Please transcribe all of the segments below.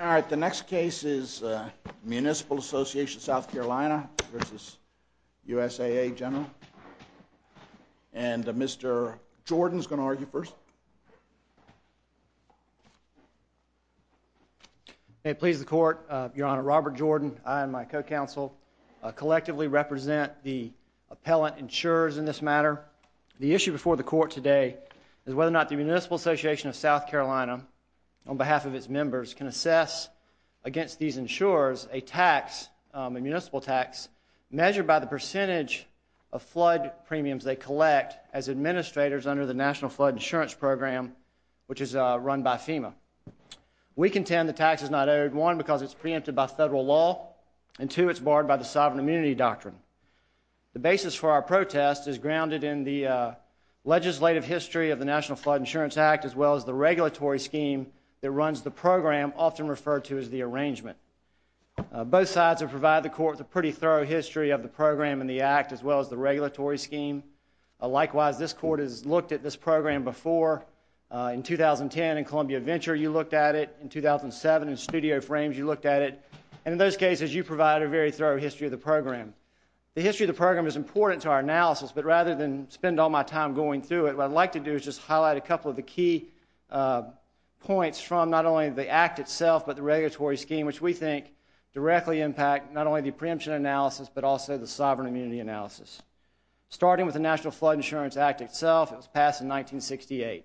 Alright, the next case is Municipal Association of SC v. USAA General and Mr. Jordan is going to argue first. May it please the Court, Your Honor, Robert Jordan, I and my co-counsel collectively represent the appellant insurers in this matter. The issue before the Court today is whether or not the Municipal Association of SC of China, on behalf of its members, can assess against these insurers a tax, a municipal tax, measured by the percentage of flood premiums they collect as administrators under the National Flood Insurance Program, which is run by FEMA. We contend the tax is not owed, one, because it's preempted by federal law, and two, it's barred by the sovereign immunity doctrine. The basis for our protest is grounded in the legislative history of the National Flood Insurance Act as well as the regulatory scheme that runs the program, often referred to as the arrangement. Both sides have provided the Court with a pretty thorough history of the program and the act as well as the regulatory scheme. Likewise, this Court has looked at this program before. In 2010, in Columbia Venture, you looked at it. In 2007, in Studio Frames, you looked at it. And in those cases, you provide a very thorough history of the program. The history of the program is important to our analysis, but rather than spend all my time going through it, what I'd like to do is just highlight a couple of the key points from not only the act itself but the regulatory scheme, which we think directly impact not only the preemption analysis but also the sovereign immunity analysis. Starting with the National Flood Insurance Act itself, it was passed in 1968.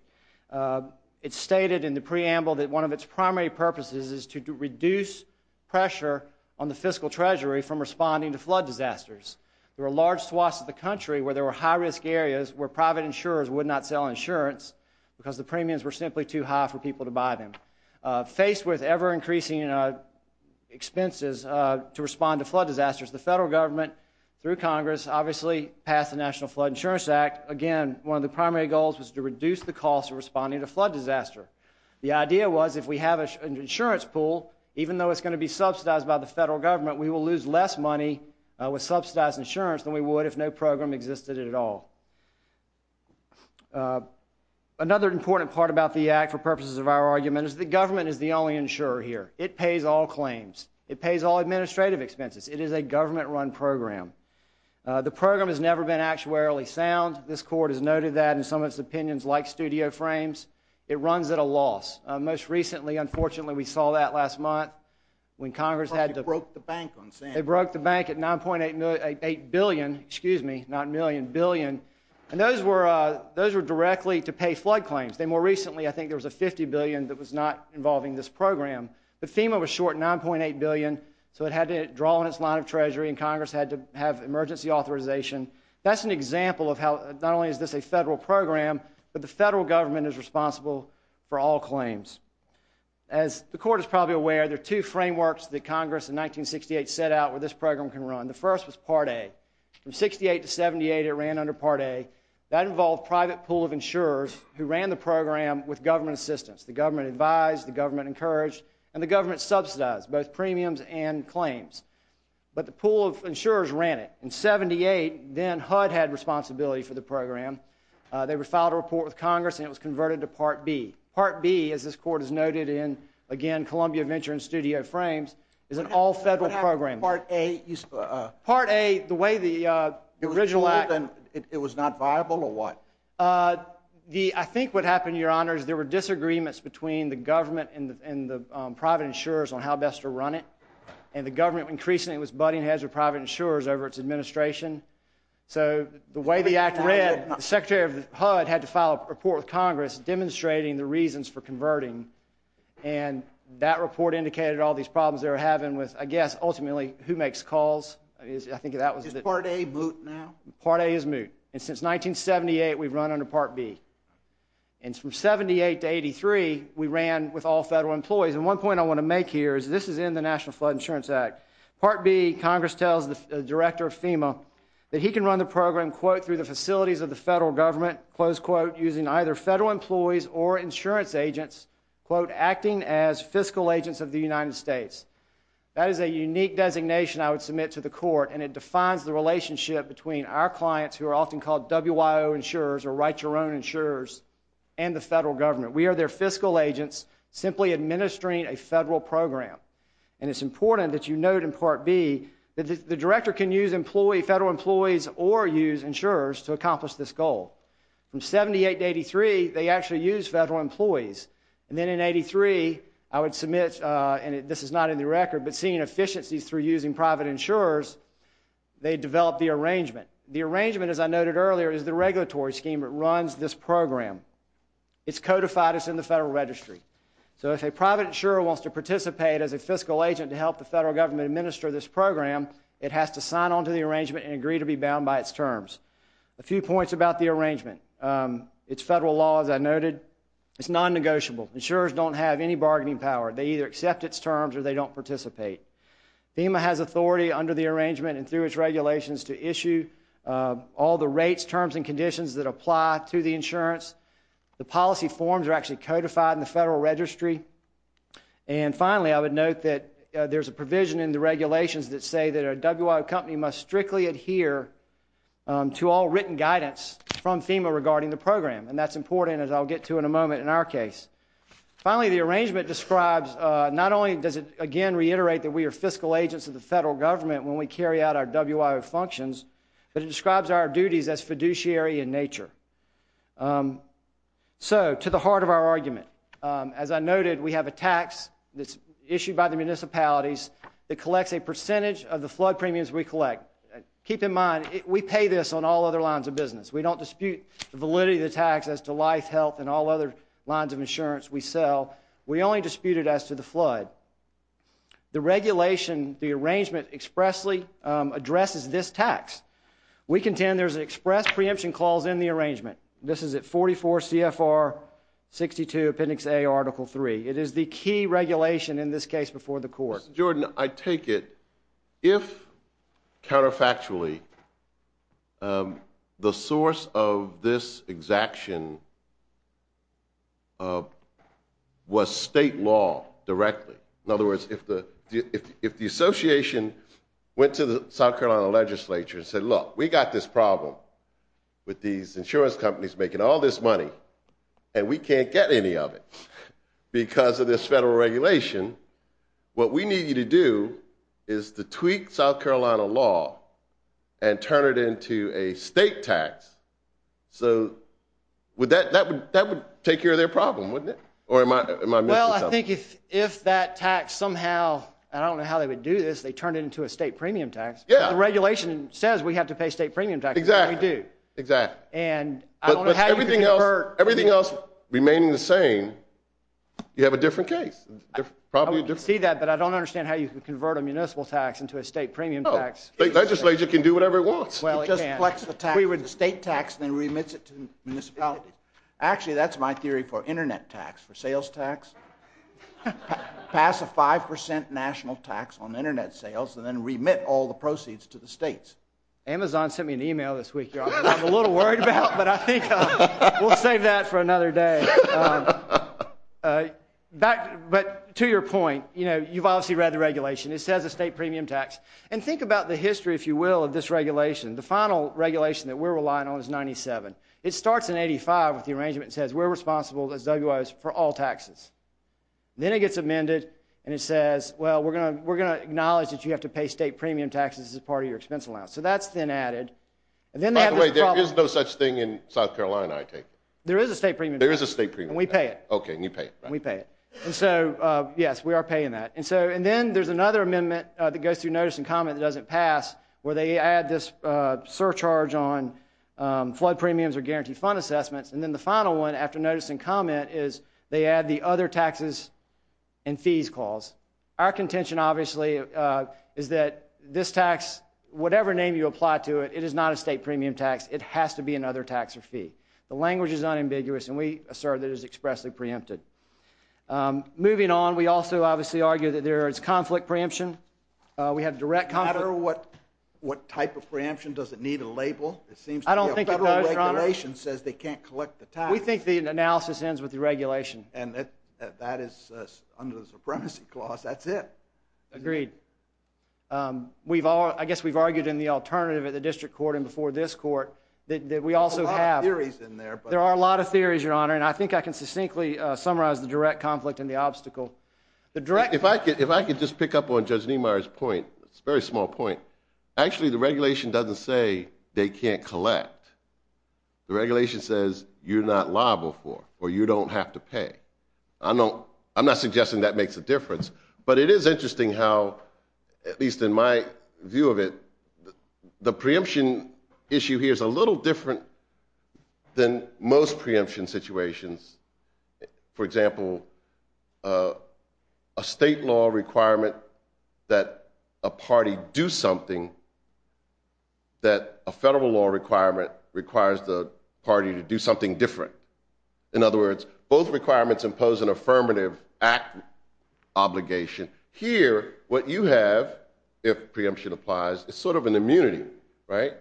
It's stated in the preamble that one of its primary purposes is to reduce pressure on the fiscal treasury from responding to flood disasters. There were large swaths of the country where there were high-risk areas where private insurers would not sell insurance because the premiums were simply too high for people to buy them. Faced with ever-increasing expenses to respond to flood disasters, the federal government, through Congress, obviously passed the National Flood Insurance Act. Again, one of the primary goals was to reduce the cost of responding to flood disaster. The idea was if we have an insurance pool, even though it's going to be subsidized by the federal government, we will lose less money with subsidized insurance than we would if no program existed at all. Another important part about the act for purposes of our argument is the government is the only insurer here. It pays all claims. It pays all administrative expenses. It is a government-run program. The program has never been actuarially sound. This court has noted that in some of its opinions like studio frames. It runs at a loss. Most recently, unfortunately, we saw that last month when Congress had to— They broke the bank at $9.8 billion. Excuse me, not million, billion. And those were directly to pay flood claims. More recently, I think there was a $50 billion that was not involving this program. But FEMA was short $9.8 billion, so it had to draw on its line of treasury, and Congress had to have emergency authorization. That's an example of how not only is this a federal program, but the federal government is responsible for all claims. As the court is probably aware, there are two frameworks that Congress in 1968 set out where this program can run. The first was Part A. From 68 to 78, it ran under Part A. That involved private pool of insurers who ran the program with government assistance. The government advised, the government encouraged, and the government subsidized both premiums and claims. But the pool of insurers ran it. In 78, then HUD had responsibility for the program. They filed a report with Congress, and it was converted to Part B. Part B, as this court has noted in, again, Columbia Venture and Studio Frames, is an all-federal program. What happened in Part A? Part A, the way the original act... It was not viable, or what? I think what happened, Your Honor, is there were disagreements between the government and the private insurers on how best to run it. And the government increasingly was butting heads with private insurers over its administration. So the way the act read, the secretary of HUD had to file a report with Congress demonstrating the reasons for converting. And that report indicated all these problems they were having with, I guess, ultimately, who makes calls. I think that was the... Is Part A moot now? Part A is moot. And since 1978, we've run under Part B. And from 78 to 83, we ran with all federal employees. And one point I want to make here is this is in the National Flood Insurance Act. Part B, Congress tells the director of FEMA that he can run the program, quote, through the facilities of the federal government, close quote, using either federal employees or insurance agents, quote, acting as fiscal agents of the United States. That is a unique designation I would submit to the court, and it defines the relationship between our clients, who are often called WIO insurers or write-your-own insurers, and the federal government. We are their fiscal agents simply administering a federal program. And it's important that you note in Part B that the director can use federal employees or use insurers to accomplish this goal. From 78 to 83, they actually use federal employees. And then in 83, I would submit, and this is not in the record, but seeing efficiencies through using private insurers, they develop the arrangement. The arrangement, as I noted earlier, is the regulatory scheme that runs this program. It's codified as in the Federal Registry. So if a private insurer wants to participate as a fiscal agent to help the federal government administer this program, it has to sign on to the arrangement and agree to be bound by its terms. A few points about the arrangement. It's federal law, as I noted. It's non-negotiable. Insurers don't have any bargaining power. They either accept its terms or they don't participate. FEMA has authority under the arrangement and through its regulations to issue all the rates, terms, and conditions that apply to the insurance. The policy forms are actually codified in the Federal Registry. And finally, I would note that there's a provision in the regulations that say that a WIO company must strictly adhere to all written guidance from FEMA regarding the program, and that's important, as I'll get to in a moment, in our case. Finally, the arrangement describes not only does it, again, reiterate that we are fiscal agents of the federal government when we carry out our WIO functions, but it describes our duties as fiduciary in nature. So, to the heart of our argument. As I noted, we have a tax that's issued by the municipalities that collects a percentage of the flood premiums we collect. Keep in mind, we pay this on all other lines of business. We don't dispute the validity of the tax as to life, health, and all other lines of insurance we sell. We only dispute it as to the flood. The regulation, the arrangement, expressly addresses this tax. We contend there's an express preemption clause in the arrangement. This is at 44 CFR 62 Appendix A, Article 3. It is the key regulation in this case before the court. Mr. Jordan, I take it if, counterfactually, the source of this exaction was state law directly. In other words, if the association went to the South Carolina legislature and said, look, we got this problem with these insurance companies making all this money, and we can't get any of it because of this federal regulation, what we need you to do is to tweak South Carolina law and turn it into a state tax. So, that would take care of their problem, wouldn't it? Well, I think if that tax somehow, I don't know how they would do this, they turn it into a state premium tax. The regulation says we have to pay state premium tax, and we do. But everything else remaining the same, you have a different case. I don't see that, but I don't understand how you can convert a municipal tax into a state premium tax. The legislature can do whatever it wants. It just collects the tax, the state tax, and then remits it to municipalities. Actually, that's my theory for internet tax, for sales tax. Pass a 5% national tax on internet sales and then remit all the proceeds to the states. Amazon sent me an email this week. I'm a little worried about it, but I think we'll save that for another day. But to your point, you've obviously read the regulation. It says a state premium tax. And think about the history, if you will, of this regulation. The final regulation that we're relying on is 97. It starts in 85 with the arrangement that says we're responsible as WIOs for all taxes. Then it gets amended, and it says, well, we're going to acknowledge that you have to pay state premium taxes as part of your expense allowance. So that's then added. By the way, there is no such thing in South Carolina, I take it. There is a state premium tax. There is a state premium tax. And we pay it. Okay, and you pay it. And we pay it. And so, yes, we are paying that. And then there's another amendment that goes through notice and comment that doesn't pass where they add this surcharge on flood premiums or guaranteed fund assessments. And then the final one, after notice and comment, is they add the other taxes and fees clause. Our contention, obviously, is that this tax, whatever name you apply to it, it is not a state premium tax. It has to be another tax or fee. The language is unambiguous, and we assert that it is expressly preempted. Moving on, we also obviously argue that there is conflict preemption. We have direct conflict. No matter what type of preemption, does it need a label? I don't think it does, Your Honor. Federal regulation says they can't collect the tax. We think the analysis ends with the regulation. And that is under the supremacy clause. That's it. Agreed. I guess we've argued in the alternative at the district court and before this court that we also have. There are a lot of theories in there. There are a lot of theories, Your Honor, and I think I can succinctly summarize the direct conflict and the obstacle. If I could just pick up on Judge Niemeyer's point, it's a very small point. Actually, the regulation doesn't say they can't collect. The regulation says you're not liable for, or you don't have to pay. I'm not suggesting that makes a difference, but it is interesting how, at least in my view of it, the preemption issue here is a little different than most preemption situations. For example, a state law requirement that a party do something that a federal law requirement requires the party to do something different. In other words, both requirements impose an affirmative act obligation. Here, what you have, if preemption applies, is sort of an immunity, right?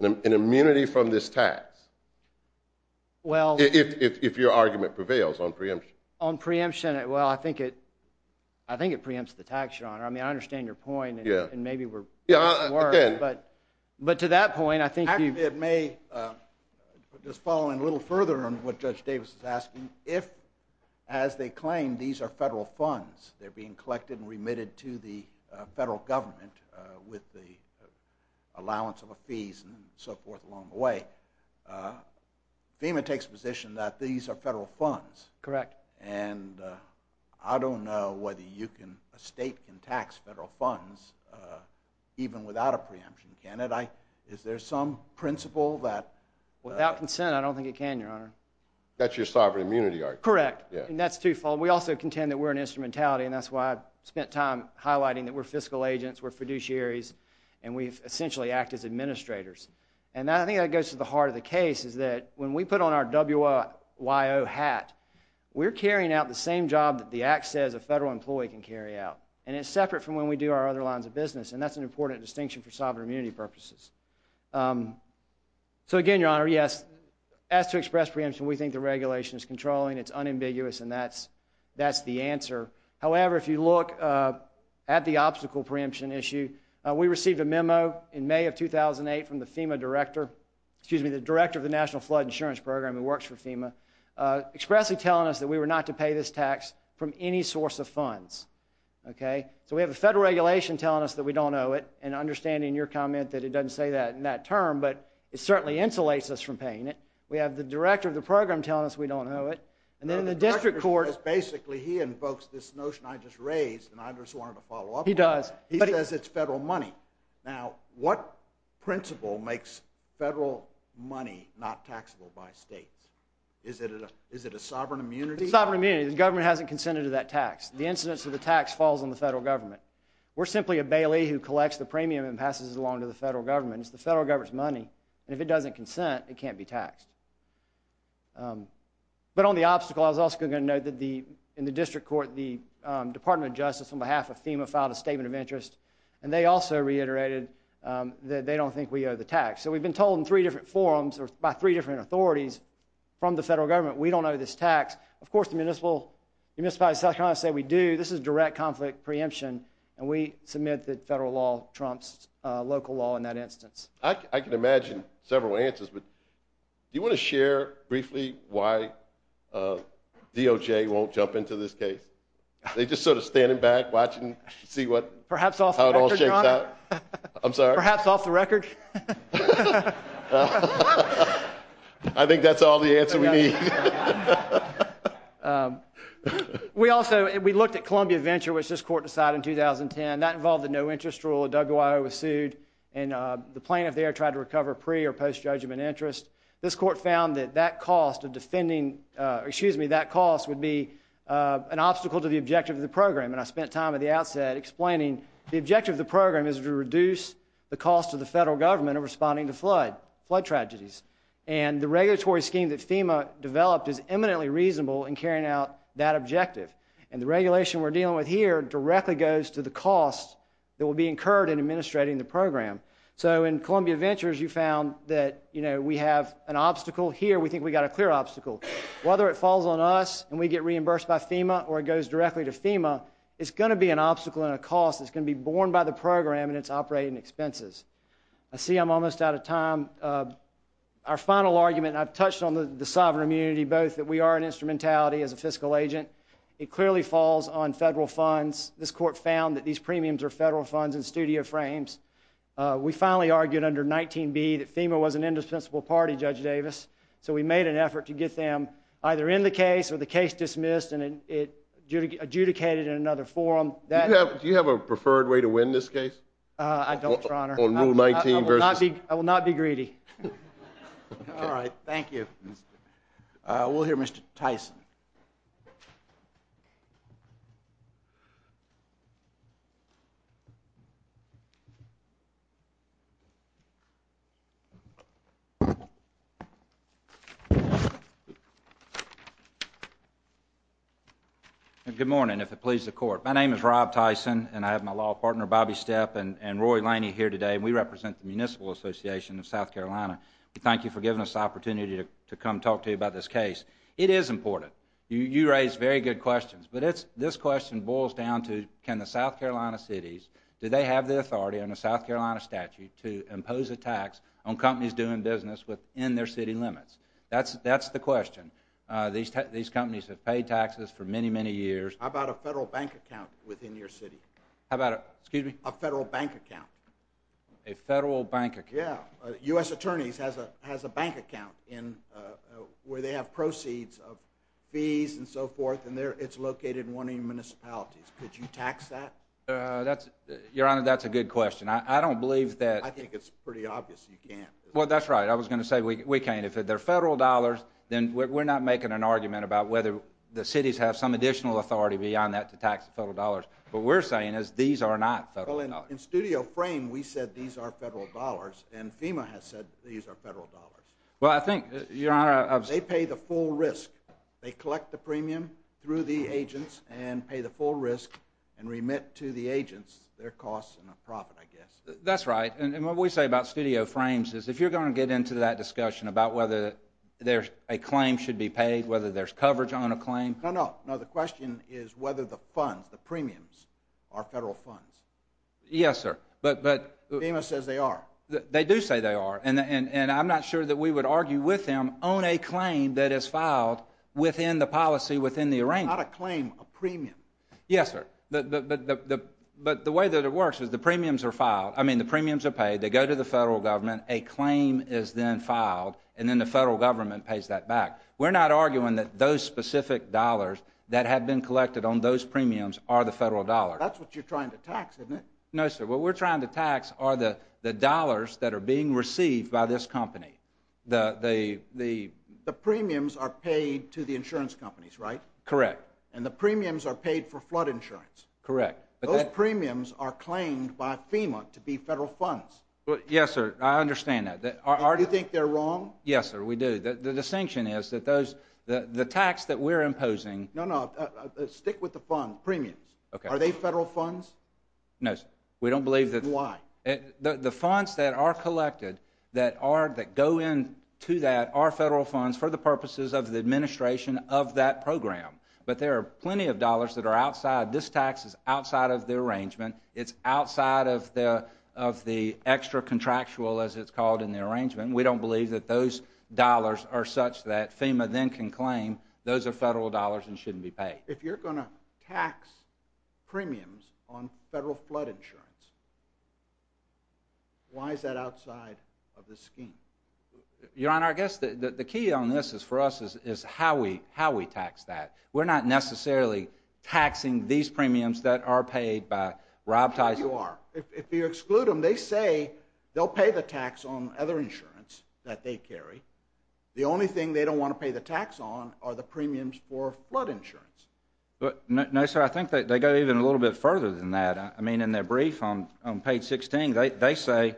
An immunity from this tax. If your argument prevails on preemption. On preemption, well, I think it preempts the tax, Your Honor. I mean, I understand your point, and maybe we're worse, but to that point, I think you've— Actually, it may just fall in a little further on what Judge Davis is asking. If, as they claim, these are federal funds, they're being collected and remitted to the federal government with the allowance of the fees and so forth along the way. FEMA takes position that these are federal funds. Correct. And I don't know whether you can—a state can tax federal funds even without a preemption, can it? Is there some principle that— Without consent, I don't think it can, Your Honor. That's your sovereign immunity argument. Correct, and that's twofold. We also contend that we're an instrumentality, and that's why I spent time highlighting that we're fiscal agents, we're fiduciaries, and we essentially act as administrators. And I think that goes to the heart of the case, is that when we put on our WYO hat, we're carrying out the same job that the act says a federal employee can carry out, and it's separate from when we do our other lines of business, and that's an important distinction for sovereign immunity purposes. So, again, Your Honor, yes, as to express preemption, we think the regulation is controlling, it's unambiguous, and that's the answer. However, if you look at the obstacle preemption issue, we received a memo in May of 2008 from the FEMA director— excuse me, the director of the National Flood Insurance Program, who works for FEMA, expressly telling us that we were not to pay this tax from any source of funds. Okay? So we have a federal regulation telling us that we don't owe it, and understanding your comment that it doesn't say that in that term, but it certainly insulates us from paying it. We have the director of the program telling us we don't owe it. The director basically invokes this notion I just raised, and I just wanted to follow up on it. He does. He says it's federal money. Now, what principle makes federal money not taxable by states? Is it a sovereign immunity? It's a sovereign immunity. The government hasn't consented to that tax. The incidence of the tax falls on the federal government. We're simply a bailey who collects the premium and passes it along to the federal government. It's the federal government's money, and if it doesn't consent, it can't be taxed. But on the obstacle, I was also going to note that in the district court, the Department of Justice on behalf of FEMA filed a statement of interest, and they also reiterated that they don't think we owe the tax. So we've been told in three different forums by three different authorities from the federal government, we don't owe this tax. Of course, the municipality of South Carolina said we do. This is direct conflict preemption, and we submit that federal law trumps local law in that instance. I can imagine several answers, but do you want to share briefly why DOJ won't jump into this case? They're just sort of standing back, watching, see how it all shakes out. Perhaps off the record, Your Honor. I'm sorry? Perhaps off the record. I think that's all the answer we need. We also looked at Columbia Venture, which this court decided in 2010. That involved a no-interest rule. A DUG OIO was sued, and the plaintiff there tried to recover pre- or post-judgment interest. This court found that that cost of defending, excuse me, that cost would be an obstacle to the objective of the program, and I spent time at the outset explaining the objective of the program is to reduce the cost to the federal government of responding to flood tragedies, and the regulatory scheme that FEMA developed is eminently reasonable in carrying out that objective, and the regulation we're dealing with here directly goes to the cost that will be incurred in administrating the program. So in Columbia Ventures you found that we have an obstacle. Here we think we've got a clear obstacle. Whether it falls on us and we get reimbursed by FEMA or it goes directly to FEMA, it's going to be an obstacle and a cost. It's going to be borne by the program and its operating expenses. I see I'm almost out of time. Our final argument, and I've touched on the sovereign immunity, both that we are an instrumentality as a fiscal agent. It clearly falls on federal funds. This court found that these premiums are federal funds in studio frames. We finally argued under 19B that FEMA was an indispensable party, Judge Davis, so we made an effort to get them either in the case or the case dismissed and adjudicated in another forum. Do you have a preferred way to win this case? I don't, Your Honor. On Rule 19 versus? I will not be greedy. All right. Thank you. We'll hear Mr. Tyson. Thank you. Good morning, if it pleases the Court. My name is Rob Tyson, and I have my law partner, Bobby Stepp, and Roy Laney here today, and we represent the Municipal Association of South Carolina. We thank you for giving us the opportunity to come talk to you about this case. It is important. You raise very good questions, but this question boils down to can the South Carolina cities, do they have the authority under the South Carolina statute to impose a tax on companies doing business within their city limits? That's the question. These companies have paid taxes for many, many years. How about a federal bank account within your city? How about a, excuse me? A federal bank account. A federal bank account. Yeah. U.S. Attorneys has a bank account where they have proceeds of fees and so forth, and it's located in one of your municipalities. Could you tax that? Your Honor, that's a good question. I don't believe that. I think it's pretty obvious you can't. Well, that's right. I was going to say we can't. If they're federal dollars, then we're not making an argument about whether the cities have some additional authority beyond that to tax the federal dollars. What we're saying is these are not federal dollars. Well, in studio frame, we said these are federal dollars, and FEMA has said these are federal dollars. Well, I think, Your Honor. They pay the full risk. They collect the premium through the agents and pay the full risk and remit to the agents their costs in a profit, I guess. That's right. And what we say about studio frames is if you're going to get into that discussion about whether a claim should be paid, whether there's coverage on a claim. No, no. No, the question is whether the funds, the premiums, are federal funds. Yes, sir. FEMA says they are. They do say they are, and I'm not sure that we would argue with them on a claim that is filed within the policy, within the arrangement. Not a claim, a premium. Yes, sir. But the way that it works is the premiums are paid. They go to the federal government. A claim is then filed, and then the federal government pays that back. We're not arguing that those specific dollars that have been collected on those premiums are the federal dollars. That's what you're trying to tax, isn't it? No, sir. What we're trying to tax are the dollars that are being received by this company. The premiums are paid to the insurance companies, right? Correct. And the premiums are paid for flood insurance. Correct. Those premiums are claimed by FEMA to be federal funds. Yes, sir. I understand that. Do you think they're wrong? Yes, sir. We do. The distinction is that the tax that we're imposing No, no. Stick with the fund premiums. Okay. Are they federal funds? No, sir. We don't believe that. Why? The funds that are collected that go into that are federal funds for the purposes of the administration of that program. But there are plenty of dollars that are outside. This tax is outside of the arrangement. It's outside of the extra contractual, as it's called, in the arrangement. We don't believe that those dollars are such that FEMA then can claim those are federal dollars and shouldn't be paid. If you're going to tax premiums on federal flood insurance, why is that outside of the scheme? Your Honor, I guess the key on this, for us, is how we tax that. We're not necessarily taxing these premiums that are paid by Rob Tyson. You are. If you exclude them, they say they'll pay the tax on other insurance that they carry. The only thing they don't want to pay the tax on are the premiums for flood insurance. No, sir. I think they go even a little bit further than that. In their brief on page 16, they say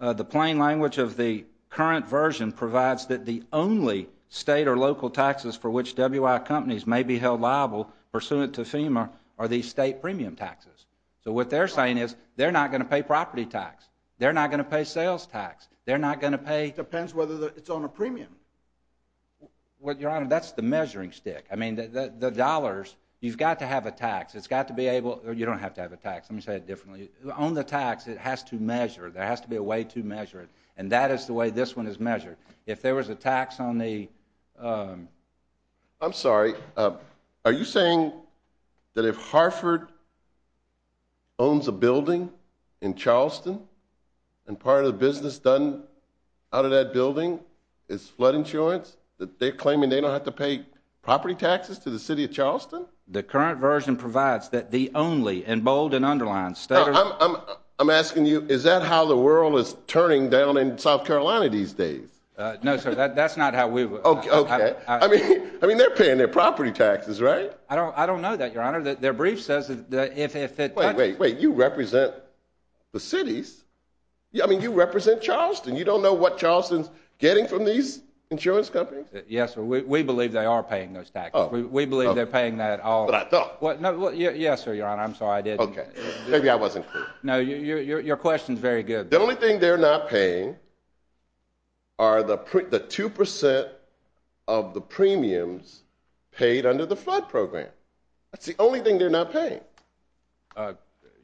the plain language of the current version provides that the only state or local taxes for which WI companies may be held liable pursuant to FEMA are these state premium taxes. So what they're saying is they're not going to pay property tax. They're not going to pay sales tax. They're not going to pay— It depends whether it's on a premium. Well, Your Honor, that's the measuring stick. I mean, the dollars, you've got to have a tax. It's got to be able—you don't have to have a tax. Let me say it differently. On the tax, it has to measure. There has to be a way to measure it, and that is the way this one is measured. If there was a tax on the— I'm sorry. Are you saying that if Harford owns a building in Charleston and part of the business done out of that building is flood insurance, that they're claiming they don't have to pay property taxes to the city of Charleston? The current version provides that the only, in bold and underlined, state or— I'm asking you, is that how the world is turning down in South Carolina these days? No, sir, that's not how we— Okay. I mean, they're paying their property taxes, right? I don't know that, Your Honor. Their brief says that if it— Wait, wait, wait. You represent the cities. I mean, you represent Charleston. You don't know what Charleston's getting from these insurance companies? Yes, sir. We believe they are paying those taxes. We believe they're paying that all— But I thought— Yes, sir, Your Honor. I'm sorry. I didn't— Okay. Maybe I wasn't clear. No, your question's very good. The only thing they're not paying are the 2 percent of the premiums paid under the flood program. That's the only thing they're not paying.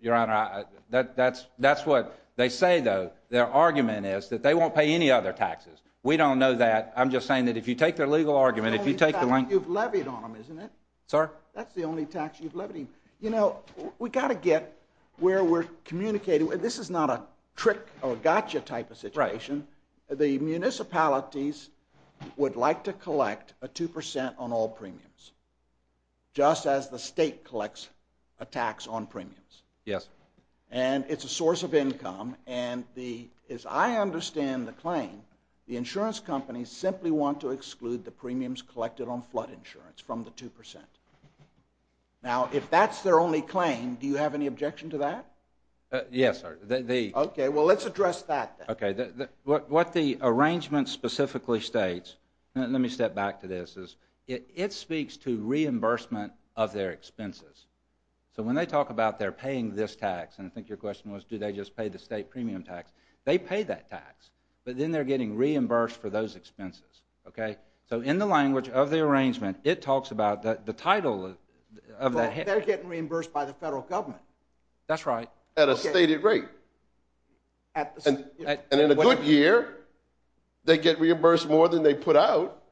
Your Honor, that's what they say, though. Their argument is that they won't pay any other taxes. We don't know that. I'm just saying that if you take their legal argument, if you take the— That's the only tax you've levied on them, isn't it? Sir? That's the only tax you've levied. You know, we've got to get where we're communicating. This is not a trick or gotcha type of situation. The municipalities would like to collect a 2 percent on all premiums. Just as the state collects a tax on premiums. Yes. And it's a source of income. And as I understand the claim, the insurance companies simply want to exclude the premiums collected on flood insurance from the 2 percent. Now, if that's their only claim, do you have any objection to that? Yes, sir. The— Okay. Well, let's address that, then. Okay. What the arrangement specifically states—let me step back to this. It speaks to reimbursement of their expenses. So when they talk about they're paying this tax, and I think your question was, do they just pay the state premium tax? They pay that tax, but then they're getting reimbursed for those expenses. Okay? So in the language of the arrangement, it talks about the title of that— They're getting reimbursed by the federal government. That's right. At a stated rate. And in a good year, they get reimbursed more than they put out.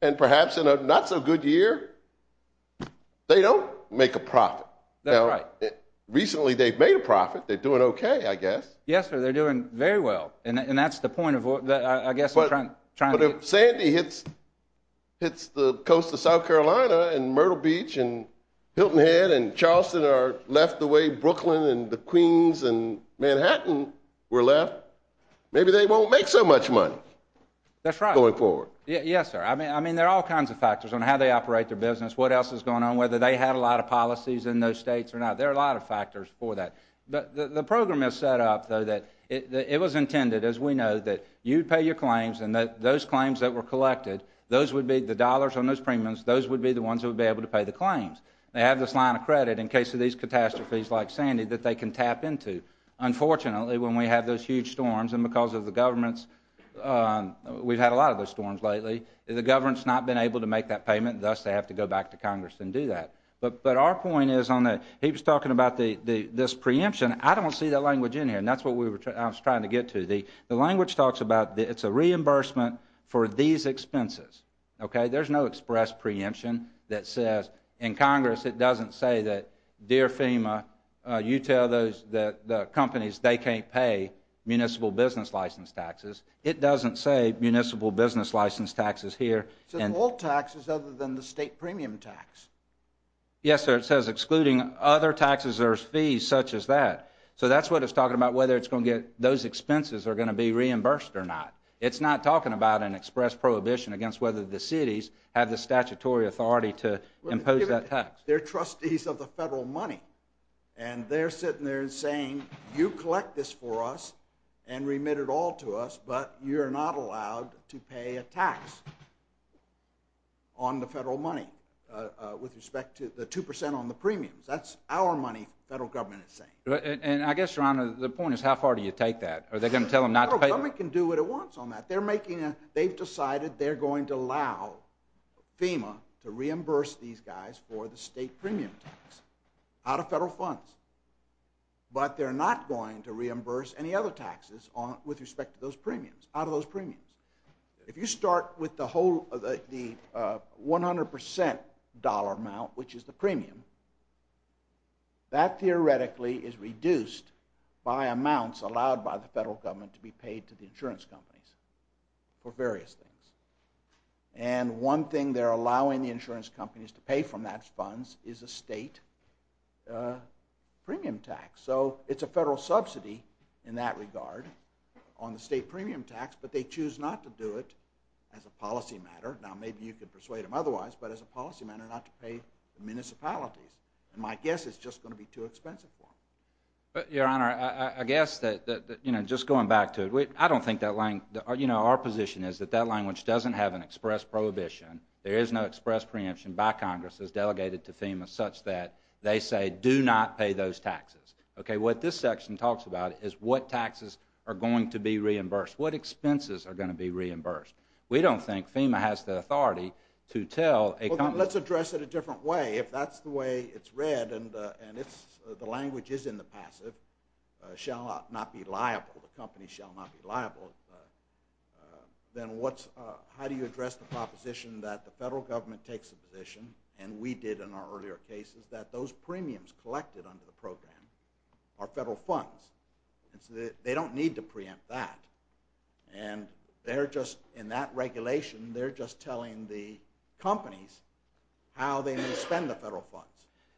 And perhaps in a not-so-good year, they don't make a profit. That's right. Now, recently they've made a profit. They're doing okay, I guess. Yes, sir. They're doing very well. And that's the point of what—I guess I'm trying to— But if Sandy hits the coast of South Carolina and Myrtle Beach and Hilton Head and Charleston are left the way Brooklyn and the Queens and Manhattan were left, maybe they won't make so much money going forward. That's right. Yes, sir. I mean, there are all kinds of factors on how they operate their business, what else is going on, whether they had a lot of policies in those states or not. There are a lot of factors for that. The program is set up, though, that it was intended, as we know, that you'd pay your claims and that those claims that were collected, those would be the dollars on those premiums, those would be the ones who would be able to pay the claims. They have this line of credit in case of these catastrophes like Sandy that they can tap into. Unfortunately, when we have those huge storms and because of the government's— we've had a lot of those storms lately, the government's not been able to make that payment, thus they have to go back to Congress and do that. But our point is on the—he was talking about this preemption. I don't see that language in here, and that's what I was trying to get to. The language talks about it's a reimbursement for these expenses. There's no express preemption that says in Congress it doesn't say that, dear FEMA, you tell the companies they can't pay municipal business license taxes. It doesn't say municipal business license taxes here. It says all taxes other than the state premium tax. Yes, sir, it says excluding other taxes or fees such as that. So that's what it's talking about, whether it's going to get— those expenses are going to be reimbursed or not. It's not talking about an express prohibition against whether the cities have the statutory authority to impose that tax. They're trustees of the federal money, and they're sitting there saying, you collect this for us and remit it all to us, but you're not allowed to pay a tax on the federal money with respect to the 2 percent on the premiums. That's our money the federal government is saying. And I guess, Your Honor, the point is how far do you take that? Are they going to tell them not to pay— The federal government can do what it wants on that. They've decided they're going to allow FEMA to reimburse these guys for the state premium tax out of federal funds, but they're not going to reimburse any other taxes with respect to those premiums, out of those premiums. If you start with the 100 percent dollar amount, which is the premium, that theoretically is reduced by amounts allowed by the federal government to be paid to the insurance companies for various things. And one thing they're allowing the insurance companies to pay from that funds is a state premium tax. So it's a federal subsidy in that regard on the state premium tax, but they choose not to do it as a policy matter. Now, maybe you could persuade them otherwise, but as a policy matter not to pay the municipalities. And my guess is it's just going to be too expensive for them. Your Honor, I guess that, you know, just going back to it, I don't think that language— you know, our position is that that language doesn't have an express prohibition. There is no express preemption by Congress that's delegated to FEMA such that they say do not pay those taxes. Okay, what this section talks about is what taxes are going to be reimbursed, what expenses are going to be reimbursed. We don't think FEMA has the authority to tell a company— Well, then let's address it a different way. If that's the way it's read and the language is in the passive, shall not be liable, the company shall not be liable, then how do you address the proposition that the federal government takes a position, and we did in our earlier cases, that those premiums collected under the program are federal funds? They don't need to preempt that. And they're just, in that regulation, they're just telling the companies how they may spend the federal funds.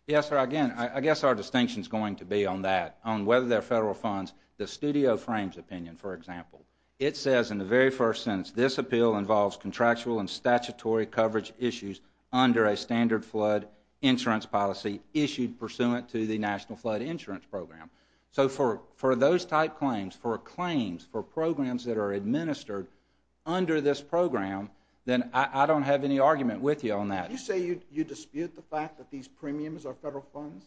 Yes, sir, again, I guess our distinction is going to be on that, on whether they're federal funds. The studio frames opinion, for example. It says in the very first sentence, this appeal involves contractual and statutory coverage issues under a standard flood insurance policy issued pursuant to the National Flood Insurance Program. So for those type claims, for claims, for programs that are administered under this program, then I don't have any argument with you on that. Did you say you dispute the fact that these premiums are federal funds?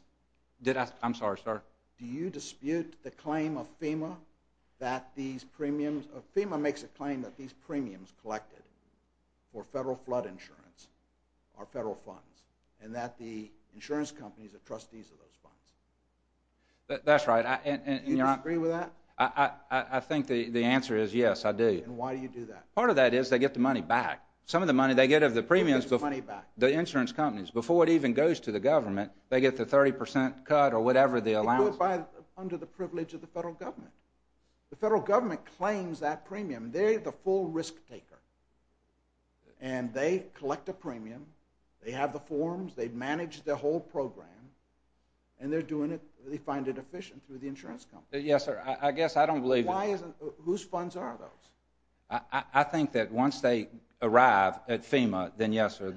Did I? I'm sorry, sir. Do you dispute the claim of FEMA that these premiums— FEMA makes a claim that these premiums collected for federal flood insurance are federal funds, and that the insurance companies are trustees of those funds. That's right. Do you disagree with that? I think the answer is yes, I do. And why do you do that? Part of that is they get the money back. Some of the money they get of the premiums, the insurance companies, before it even goes to the government, they get the 30 percent cut or whatever the allowance is. It goes under the privilege of the federal government. The federal government claims that premium. They're the full risk taker. And they collect a premium. They have the forms. They manage the whole program. And they find it efficient through the insurance companies. Yes, sir. I guess I don't believe that. Whose funds are those? I think that once they arrive at FEMA, then yes, sir,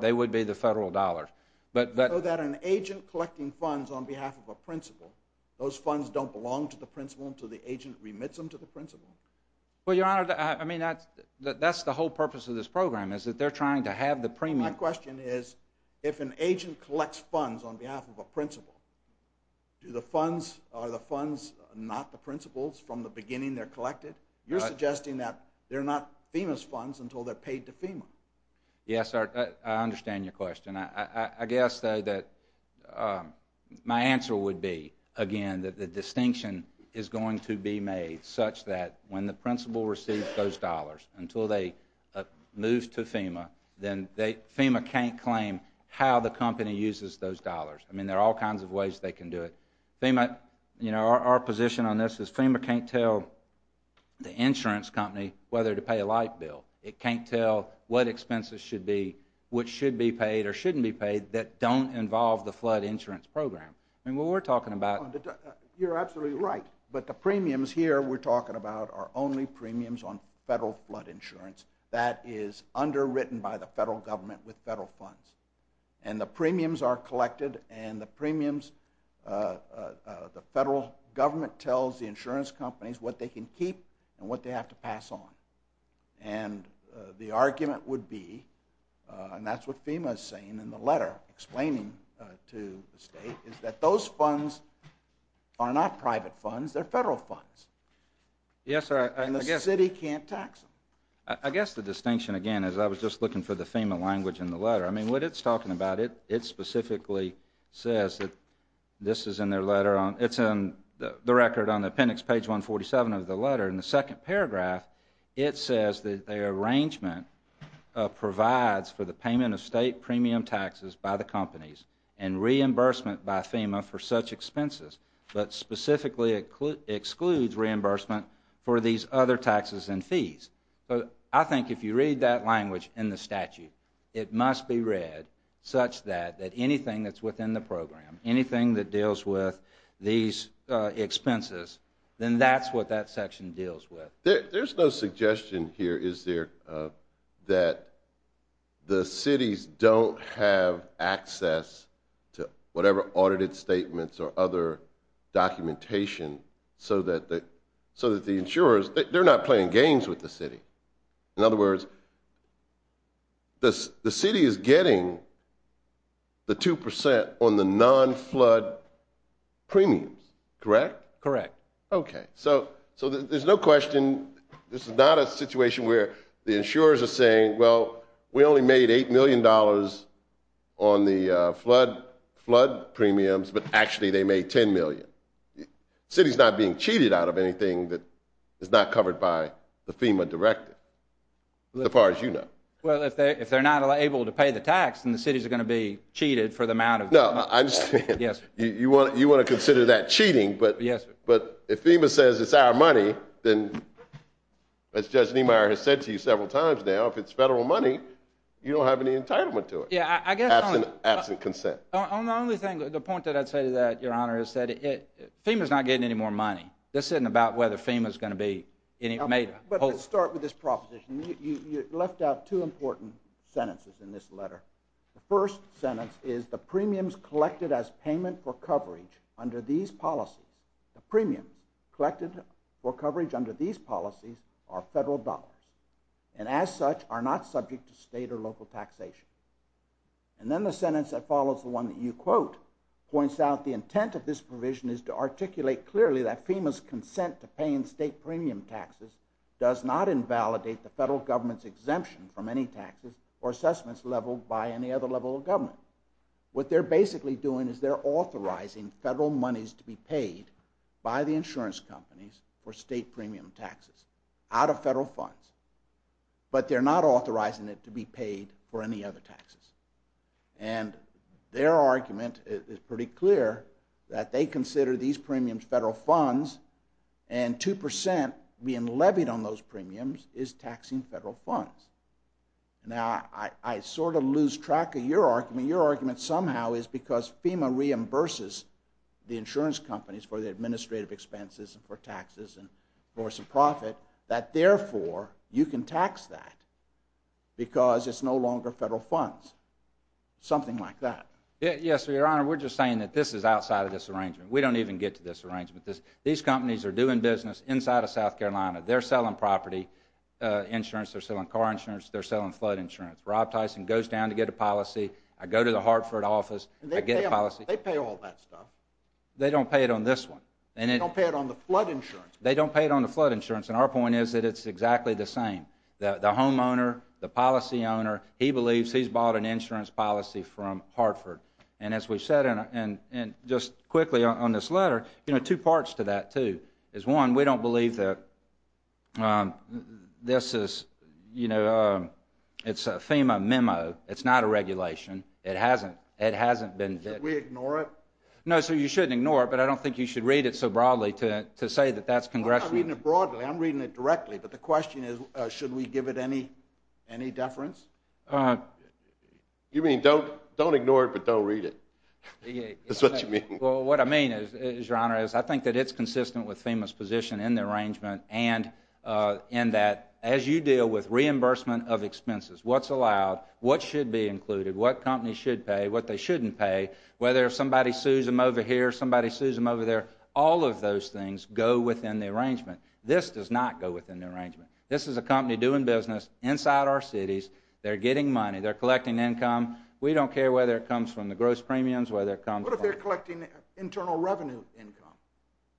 they would be the federal dollars. So that an agent collecting funds on behalf of a principal, those funds don't belong to the principal until the agent remits them to the principal? Well, Your Honor, that's the whole purpose of this program, is that they're trying to have the premium. My question is if an agent collects funds on behalf of a principal, are the funds not the principal's from the beginning they're collected? You're suggesting that they're not FEMA's funds until they're paid to FEMA. Yes, sir. I understand your question. I guess, though, that my answer would be, again, that the distinction is going to be made such that when the principal receives those dollars, until they move to FEMA, then FEMA can't claim how the company uses those dollars. I mean, there are all kinds of ways they can do it. FEMA, you know, our position on this is FEMA can't tell the insurance company whether to pay a light bill. It can't tell what expenses should be, which should be paid or shouldn't be paid, that don't involve the flood insurance program. I mean, what we're talking about... You're absolutely right, but the premiums here we're talking about are only premiums on federal flood insurance. That is underwritten by the federal government with federal funds. And the premiums are collected, and the federal government tells the insurance companies what they can keep and what they have to pass on. And the argument would be, and that's what FEMA is saying in the letter explaining to the state, is that those funds are not private funds, they're federal funds. Yes, sir. And the city can't tax them. I guess the distinction, again, is I was just looking for the FEMA language in the letter. I mean, what it's talking about, it specifically says that this is in their letter on... It's in the record on the appendix, page 147 of the letter. In the second paragraph, it says that their arrangement provides for the payment of state premium taxes by the companies and reimbursement by FEMA for such expenses, but specifically excludes reimbursement for these other taxes and fees. So I think if you read that language in the statute, it must be read such that anything that's within the program, anything that deals with these expenses, then that's what that section deals with. There's no suggestion here, is there, that the cities don't have access to whatever audited statements or other documentation so that the insurers, they're not playing games with the city. In other words, the city is getting the 2% on the non-flood premiums, correct? Correct. Okay. So there's no question this is not a situation where the insurers are saying, well, we only made $8 million on the flood premiums, but actually they made $10 million. The city's not being cheated out of anything that is not covered by the FEMA directive, as far as you know. Well, if they're not able to pay the tax, then the city's going to be cheated for the amount of... No, I'm just saying... Yes. But if FEMA says it's our money, then as Judge Niemeyer has said to you several times now, if it's federal money, you don't have any entitlement to it. Yeah, I guess... Absent consent. The only thing, the point that I'd say to that, Your Honor, is that FEMA's not getting any more money. This isn't about whether FEMA's going to be made... But let's start with this proposition. You left out two important sentences in this letter. The first sentence is, And then the sentence that follows, the one that you quote, What they're basically doing is they're authorizing federal monies to be paid by the insurance companies for state premium taxes out of federal funds. But they're not authorizing it to be paid for any other taxes. And their argument is pretty clear, that they consider these premiums federal funds, and 2% being levied on those premiums is taxing federal funds. Now, I sort of lose track of your argument. Your argument somehow is because FEMA reimburses the insurance companies for the administrative expenses and for taxes and for some profit, that therefore, you can tax that because it's no longer federal funds. Something like that. Yes, Your Honor, we're just saying that this is outside of this arrangement. We don't even get to this arrangement. These companies are doing business inside of South Carolina. They're selling property insurance. They're selling car insurance. They're selling flood insurance. Rob Tyson goes down to get a policy. I go to the Hartford office. I get a policy. They pay all that stuff. They don't pay it on this one. They don't pay it on the flood insurance. They don't pay it on the flood insurance. And our point is that it's exactly the same. The homeowner, the policy owner, he believes he's bought an insurance policy from Hartford. And as we've said, and just quickly on this letter, you know, two parts to that, too. One, we don't believe that this is, you know, it's a FEMA memo. It's not a regulation. It hasn't been vetted. Should we ignore it? No, sir, you shouldn't ignore it, but I don't think you should read it so broadly to say that that's congressional. I'm not reading it broadly. I'm reading it directly. But the question is should we give it any deference? You mean don't ignore it but don't read it? That's what you mean? Well, what I mean is, Your Honor, is I think that it's consistent with FEMA's position in the arrangement and that as you deal with reimbursement of expenses, what's allowed, what should be included, what companies should pay, what they shouldn't pay, whether somebody sues them over here, somebody sues them over there, all of those things go within the arrangement. This does not go within the arrangement. This is a company doing business inside our cities. They're getting money. They're collecting income. We don't care whether it comes from the gross premiums, whether it comes from the money. What if they're collecting internal revenue income?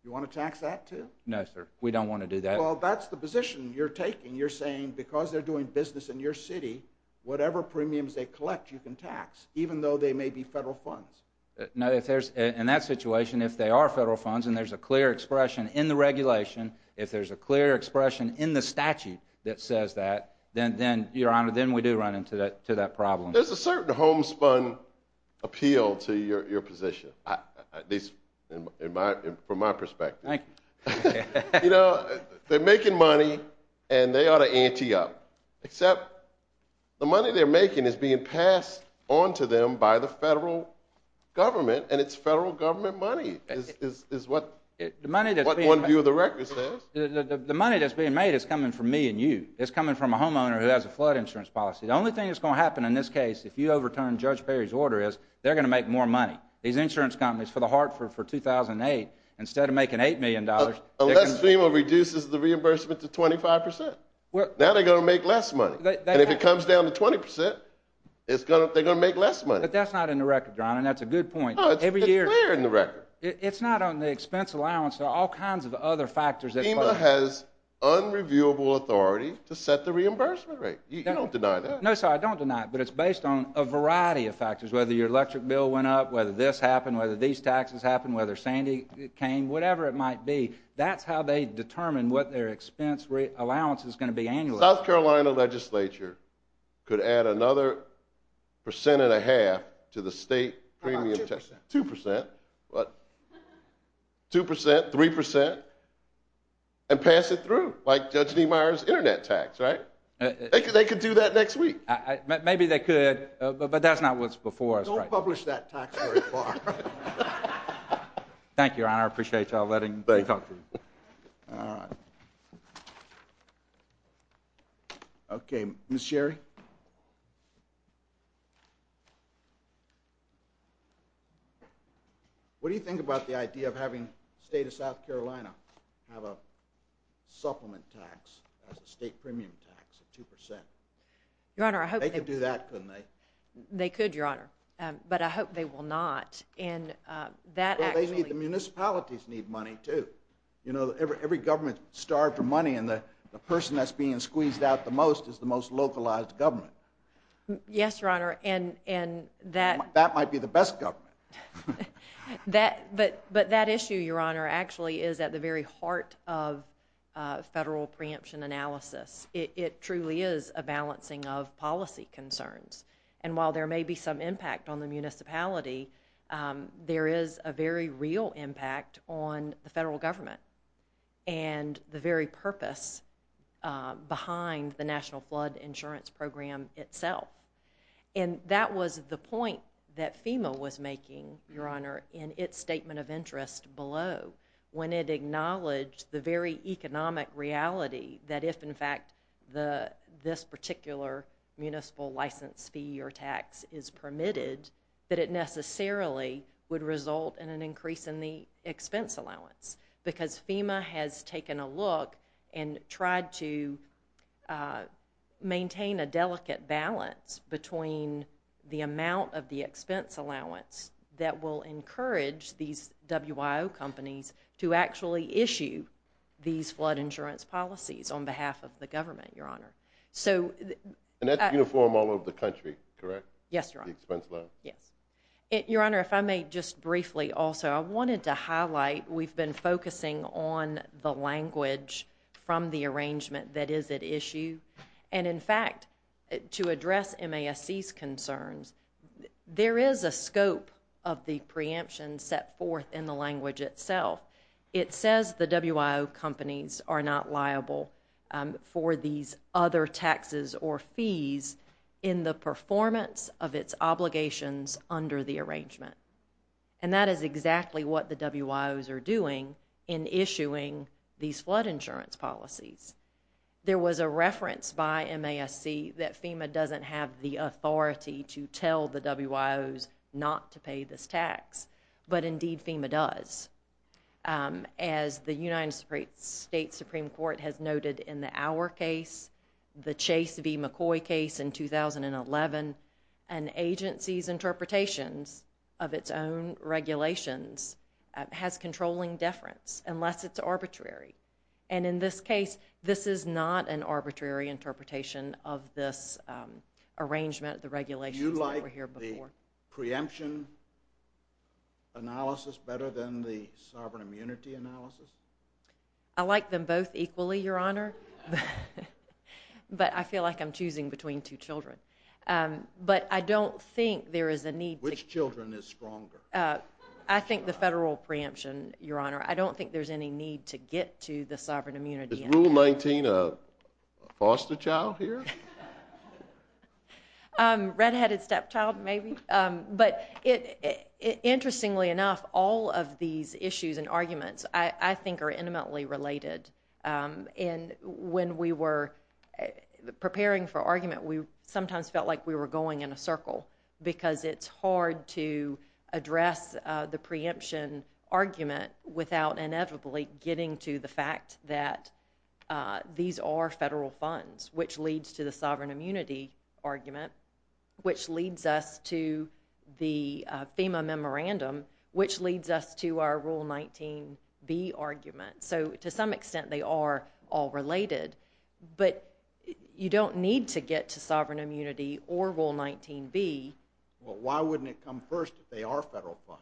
Do you want to tax that, too? No, sir. We don't want to do that. Well, that's the position you're taking. You're saying because they're doing business in your city, whatever premiums they collect you can tax, even though they may be federal funds. No, in that situation, if they are federal funds and there's a clear expression in the regulation, if there's a clear expression in the statute that says that, then, Your Honor, then we do run into that problem. There's a certain homespun appeal to your position, at least from my perspective. Thank you. You know, they're making money, and they ought to ante up, except the money they're making is being passed on to them by the federal government, and it's federal government money is what one view of the record says. The money that's being made is coming from me and you. It's coming from a homeowner who has a flood insurance policy. The only thing that's going to happen in this case, if you overturn Judge Perry's order, is they're going to make more money. These insurance companies, for the heart, for 2008, instead of making $8 million, Unless FEMA reduces the reimbursement to 25 percent. Now they're going to make less money. And if it comes down to 20 percent, they're going to make less money. But that's not in the record, Your Honor, and that's a good point. It's clear in the record. It's not on the expense allowance or all kinds of other factors. FEMA has unreviewable authority to set the reimbursement rate. You don't deny that. No, sir, I don't deny it, but it's based on a variety of factors, whether your electric bill went up, whether this happened, whether these taxes happened, whether Sandy came, whatever it might be. That's how they determine what their expense allowance is going to be annually. The South Carolina legislature could add another percent and a half to the state premium tax. How about 2 percent? 2 percent. 2 percent, 3 percent, and pass it through, like Judge Niemeyer's internet tax, right? They could do that next week. Maybe they could, but that's not what's before us right now. Don't publish that tax very far. Thank you, Your Honor. I appreciate you all letting me talk to you. All right. Okay. Ms. Sherry? What do you think about the idea of having the state of South Carolina have a supplement tax, a state premium tax of 2 percent? They could do that, couldn't they? They could, Your Honor, but I hope they will not. The municipalities need money, too. Every government is starved for money, and the person that's being squeezed out the most is the most localized government. Yes, Your Honor. That might be the best government. But that issue, Your Honor, actually is at the very heart of federal preemption analysis. It truly is a balancing of policy concerns. And while there may be some impact on the municipality, there is a very real impact on the federal government and the very purpose behind the National Flood Insurance Program itself. And that was the point that FEMA was making, Your Honor, in its statement of interest below when it acknowledged the very economic reality that if, in fact, this particular municipal license fee or tax is permitted, that it necessarily would result in an increase in the expense allowance because FEMA has taken a look and tried to maintain a delicate balance between the amount of the expense allowance that will encourage these WIO companies to actually issue these flood insurance policies on behalf of the government, Your Honor. And that's uniform all over the country, correct? Yes, Your Honor. The expense allowance? Yes. Your Honor, if I may just briefly also, I wanted to highlight we've been focusing on the language from the arrangement that is at issue. And, in fact, to address MASC's concerns, there is a scope of the preemption set forth in the language itself. It says the WIO companies are not liable for these other taxes or fees in the performance of its obligations under the arrangement. And that is exactly what the WIOs are doing in issuing these flood insurance policies. There was a reference by MASC that FEMA doesn't have the authority to tell the WIOs not to pay this tax. But, indeed, FEMA does. As the United States Supreme Court has noted in the Auer case, the Chase v. McCoy case in 2011, an agency's interpretations of its own regulations has controlling deference unless it's arbitrary. And, in this case, this is not an arbitrary interpretation of this arrangement, the regulations that were here before. Do you like the preemption analysis better than the sovereign immunity analysis? I like them both equally, Your Honor. But I feel like I'm choosing between two children. But I don't think there is a need to… Which children is stronger? I think the federal preemption, Your Honor. I don't think there's any need to get to the sovereign immunity. Is Rule 19 a foster child here? Red-headed stepchild, maybe. But, interestingly enough, all of these issues and arguments, I think, are intimately related. And when we were preparing for argument, we sometimes felt like we were going in a circle because it's hard to address the preemption argument without inevitably getting to the fact that these are federal funds, which leads to the sovereign immunity argument, which leads us to the FEMA memorandum, which leads us to our Rule 19b argument. So, to some extent, they are all related. But you don't need to get to sovereign immunity or Rule 19b. Well, why wouldn't it come first if they are federal funds?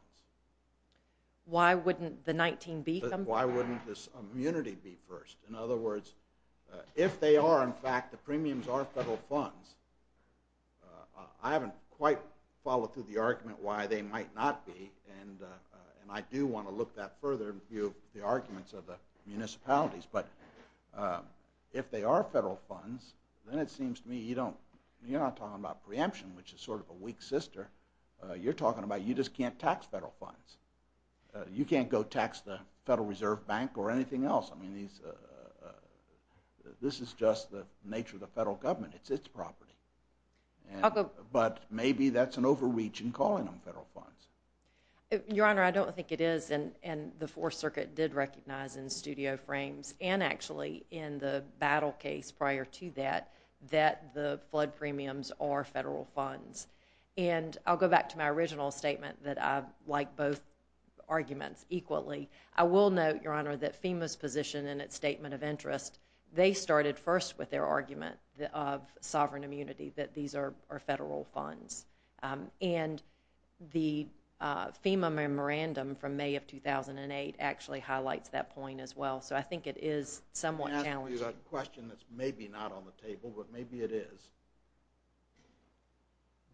Why wouldn't the 19b come first? Why wouldn't this immunity be first? In other words, if they are, in fact, the premiums are federal funds, I haven't quite followed through the argument why they might not be. And I do want to look that further in view of the arguments of the municipalities. But if they are federal funds, then it seems to me you're not talking about preemption, which is sort of a weak sister. You're talking about you just can't tax federal funds. You can't go tax the Federal Reserve Bank or anything else. I mean, this is just the nature of the federal government. It's its property. But maybe that's an overreach in calling them federal funds. Your Honor, I don't think it is. And the Fourth Circuit did recognize in studio frames and actually in the battle case prior to that that the flood premiums are federal funds. And I'll go back to my original statement that I like both arguments equally. I will note, Your Honor, that FEMA's position in its statement of interest, they started first with their argument of sovereign immunity, that these are federal funds. And the FEMA memorandum from May of 2008 actually highlights that point as well. So I think it is somewhat challenging. Let me ask you a question that's maybe not on the table, but maybe it is.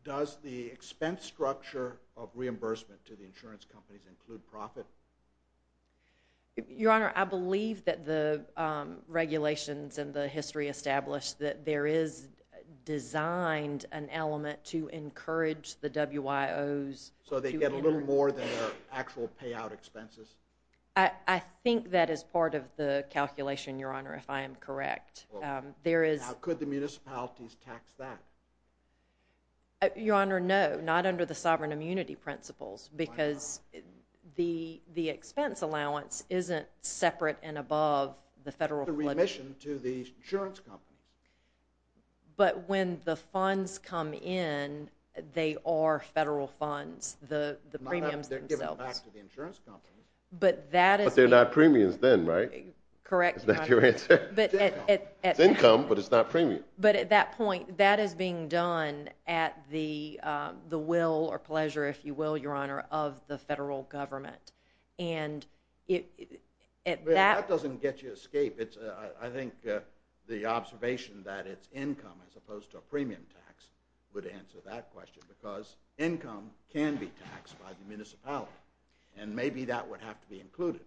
Does the expense structure of reimbursement to the insurance companies include profit? Your Honor, I believe that the regulations and the history established that there is designed an element to encourage the WIOs. So they get a little more than their actual payout expenses? I think that is part of the calculation, Your Honor, if I am correct. How could the municipalities tax that? Your Honor, no. Not under the sovereign immunity principles because the expense allowance isn't separate and above the federal flood premium. It's a remission to the insurance company. But when the funds come in, they are federal funds, the premiums themselves. They're given back to the insurance company. But that is... But they're not premiums then, right? Correct, Your Honor. Is that your answer? It's income, but it's not premium. But at that point, that is being done at the will or pleasure, if you will, Your Honor, of the federal government. That doesn't get you escape. I think the observation that it's income as opposed to a premium tax would answer that question because income can be taxed by the municipality. And maybe that would have to be included.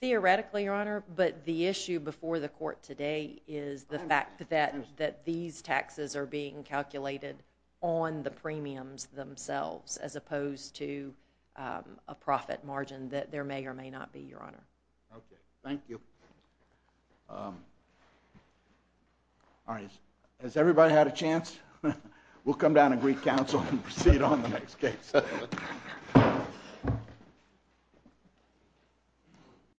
Theoretically, Your Honor, but the issue before the court today is the fact that these taxes are being calculated on the premiums themselves as opposed to a profit margin that there may or may not be, Your Honor. Okay, thank you. All right, has everybody had a chance? We'll come down to Greek Council and proceed on the next case.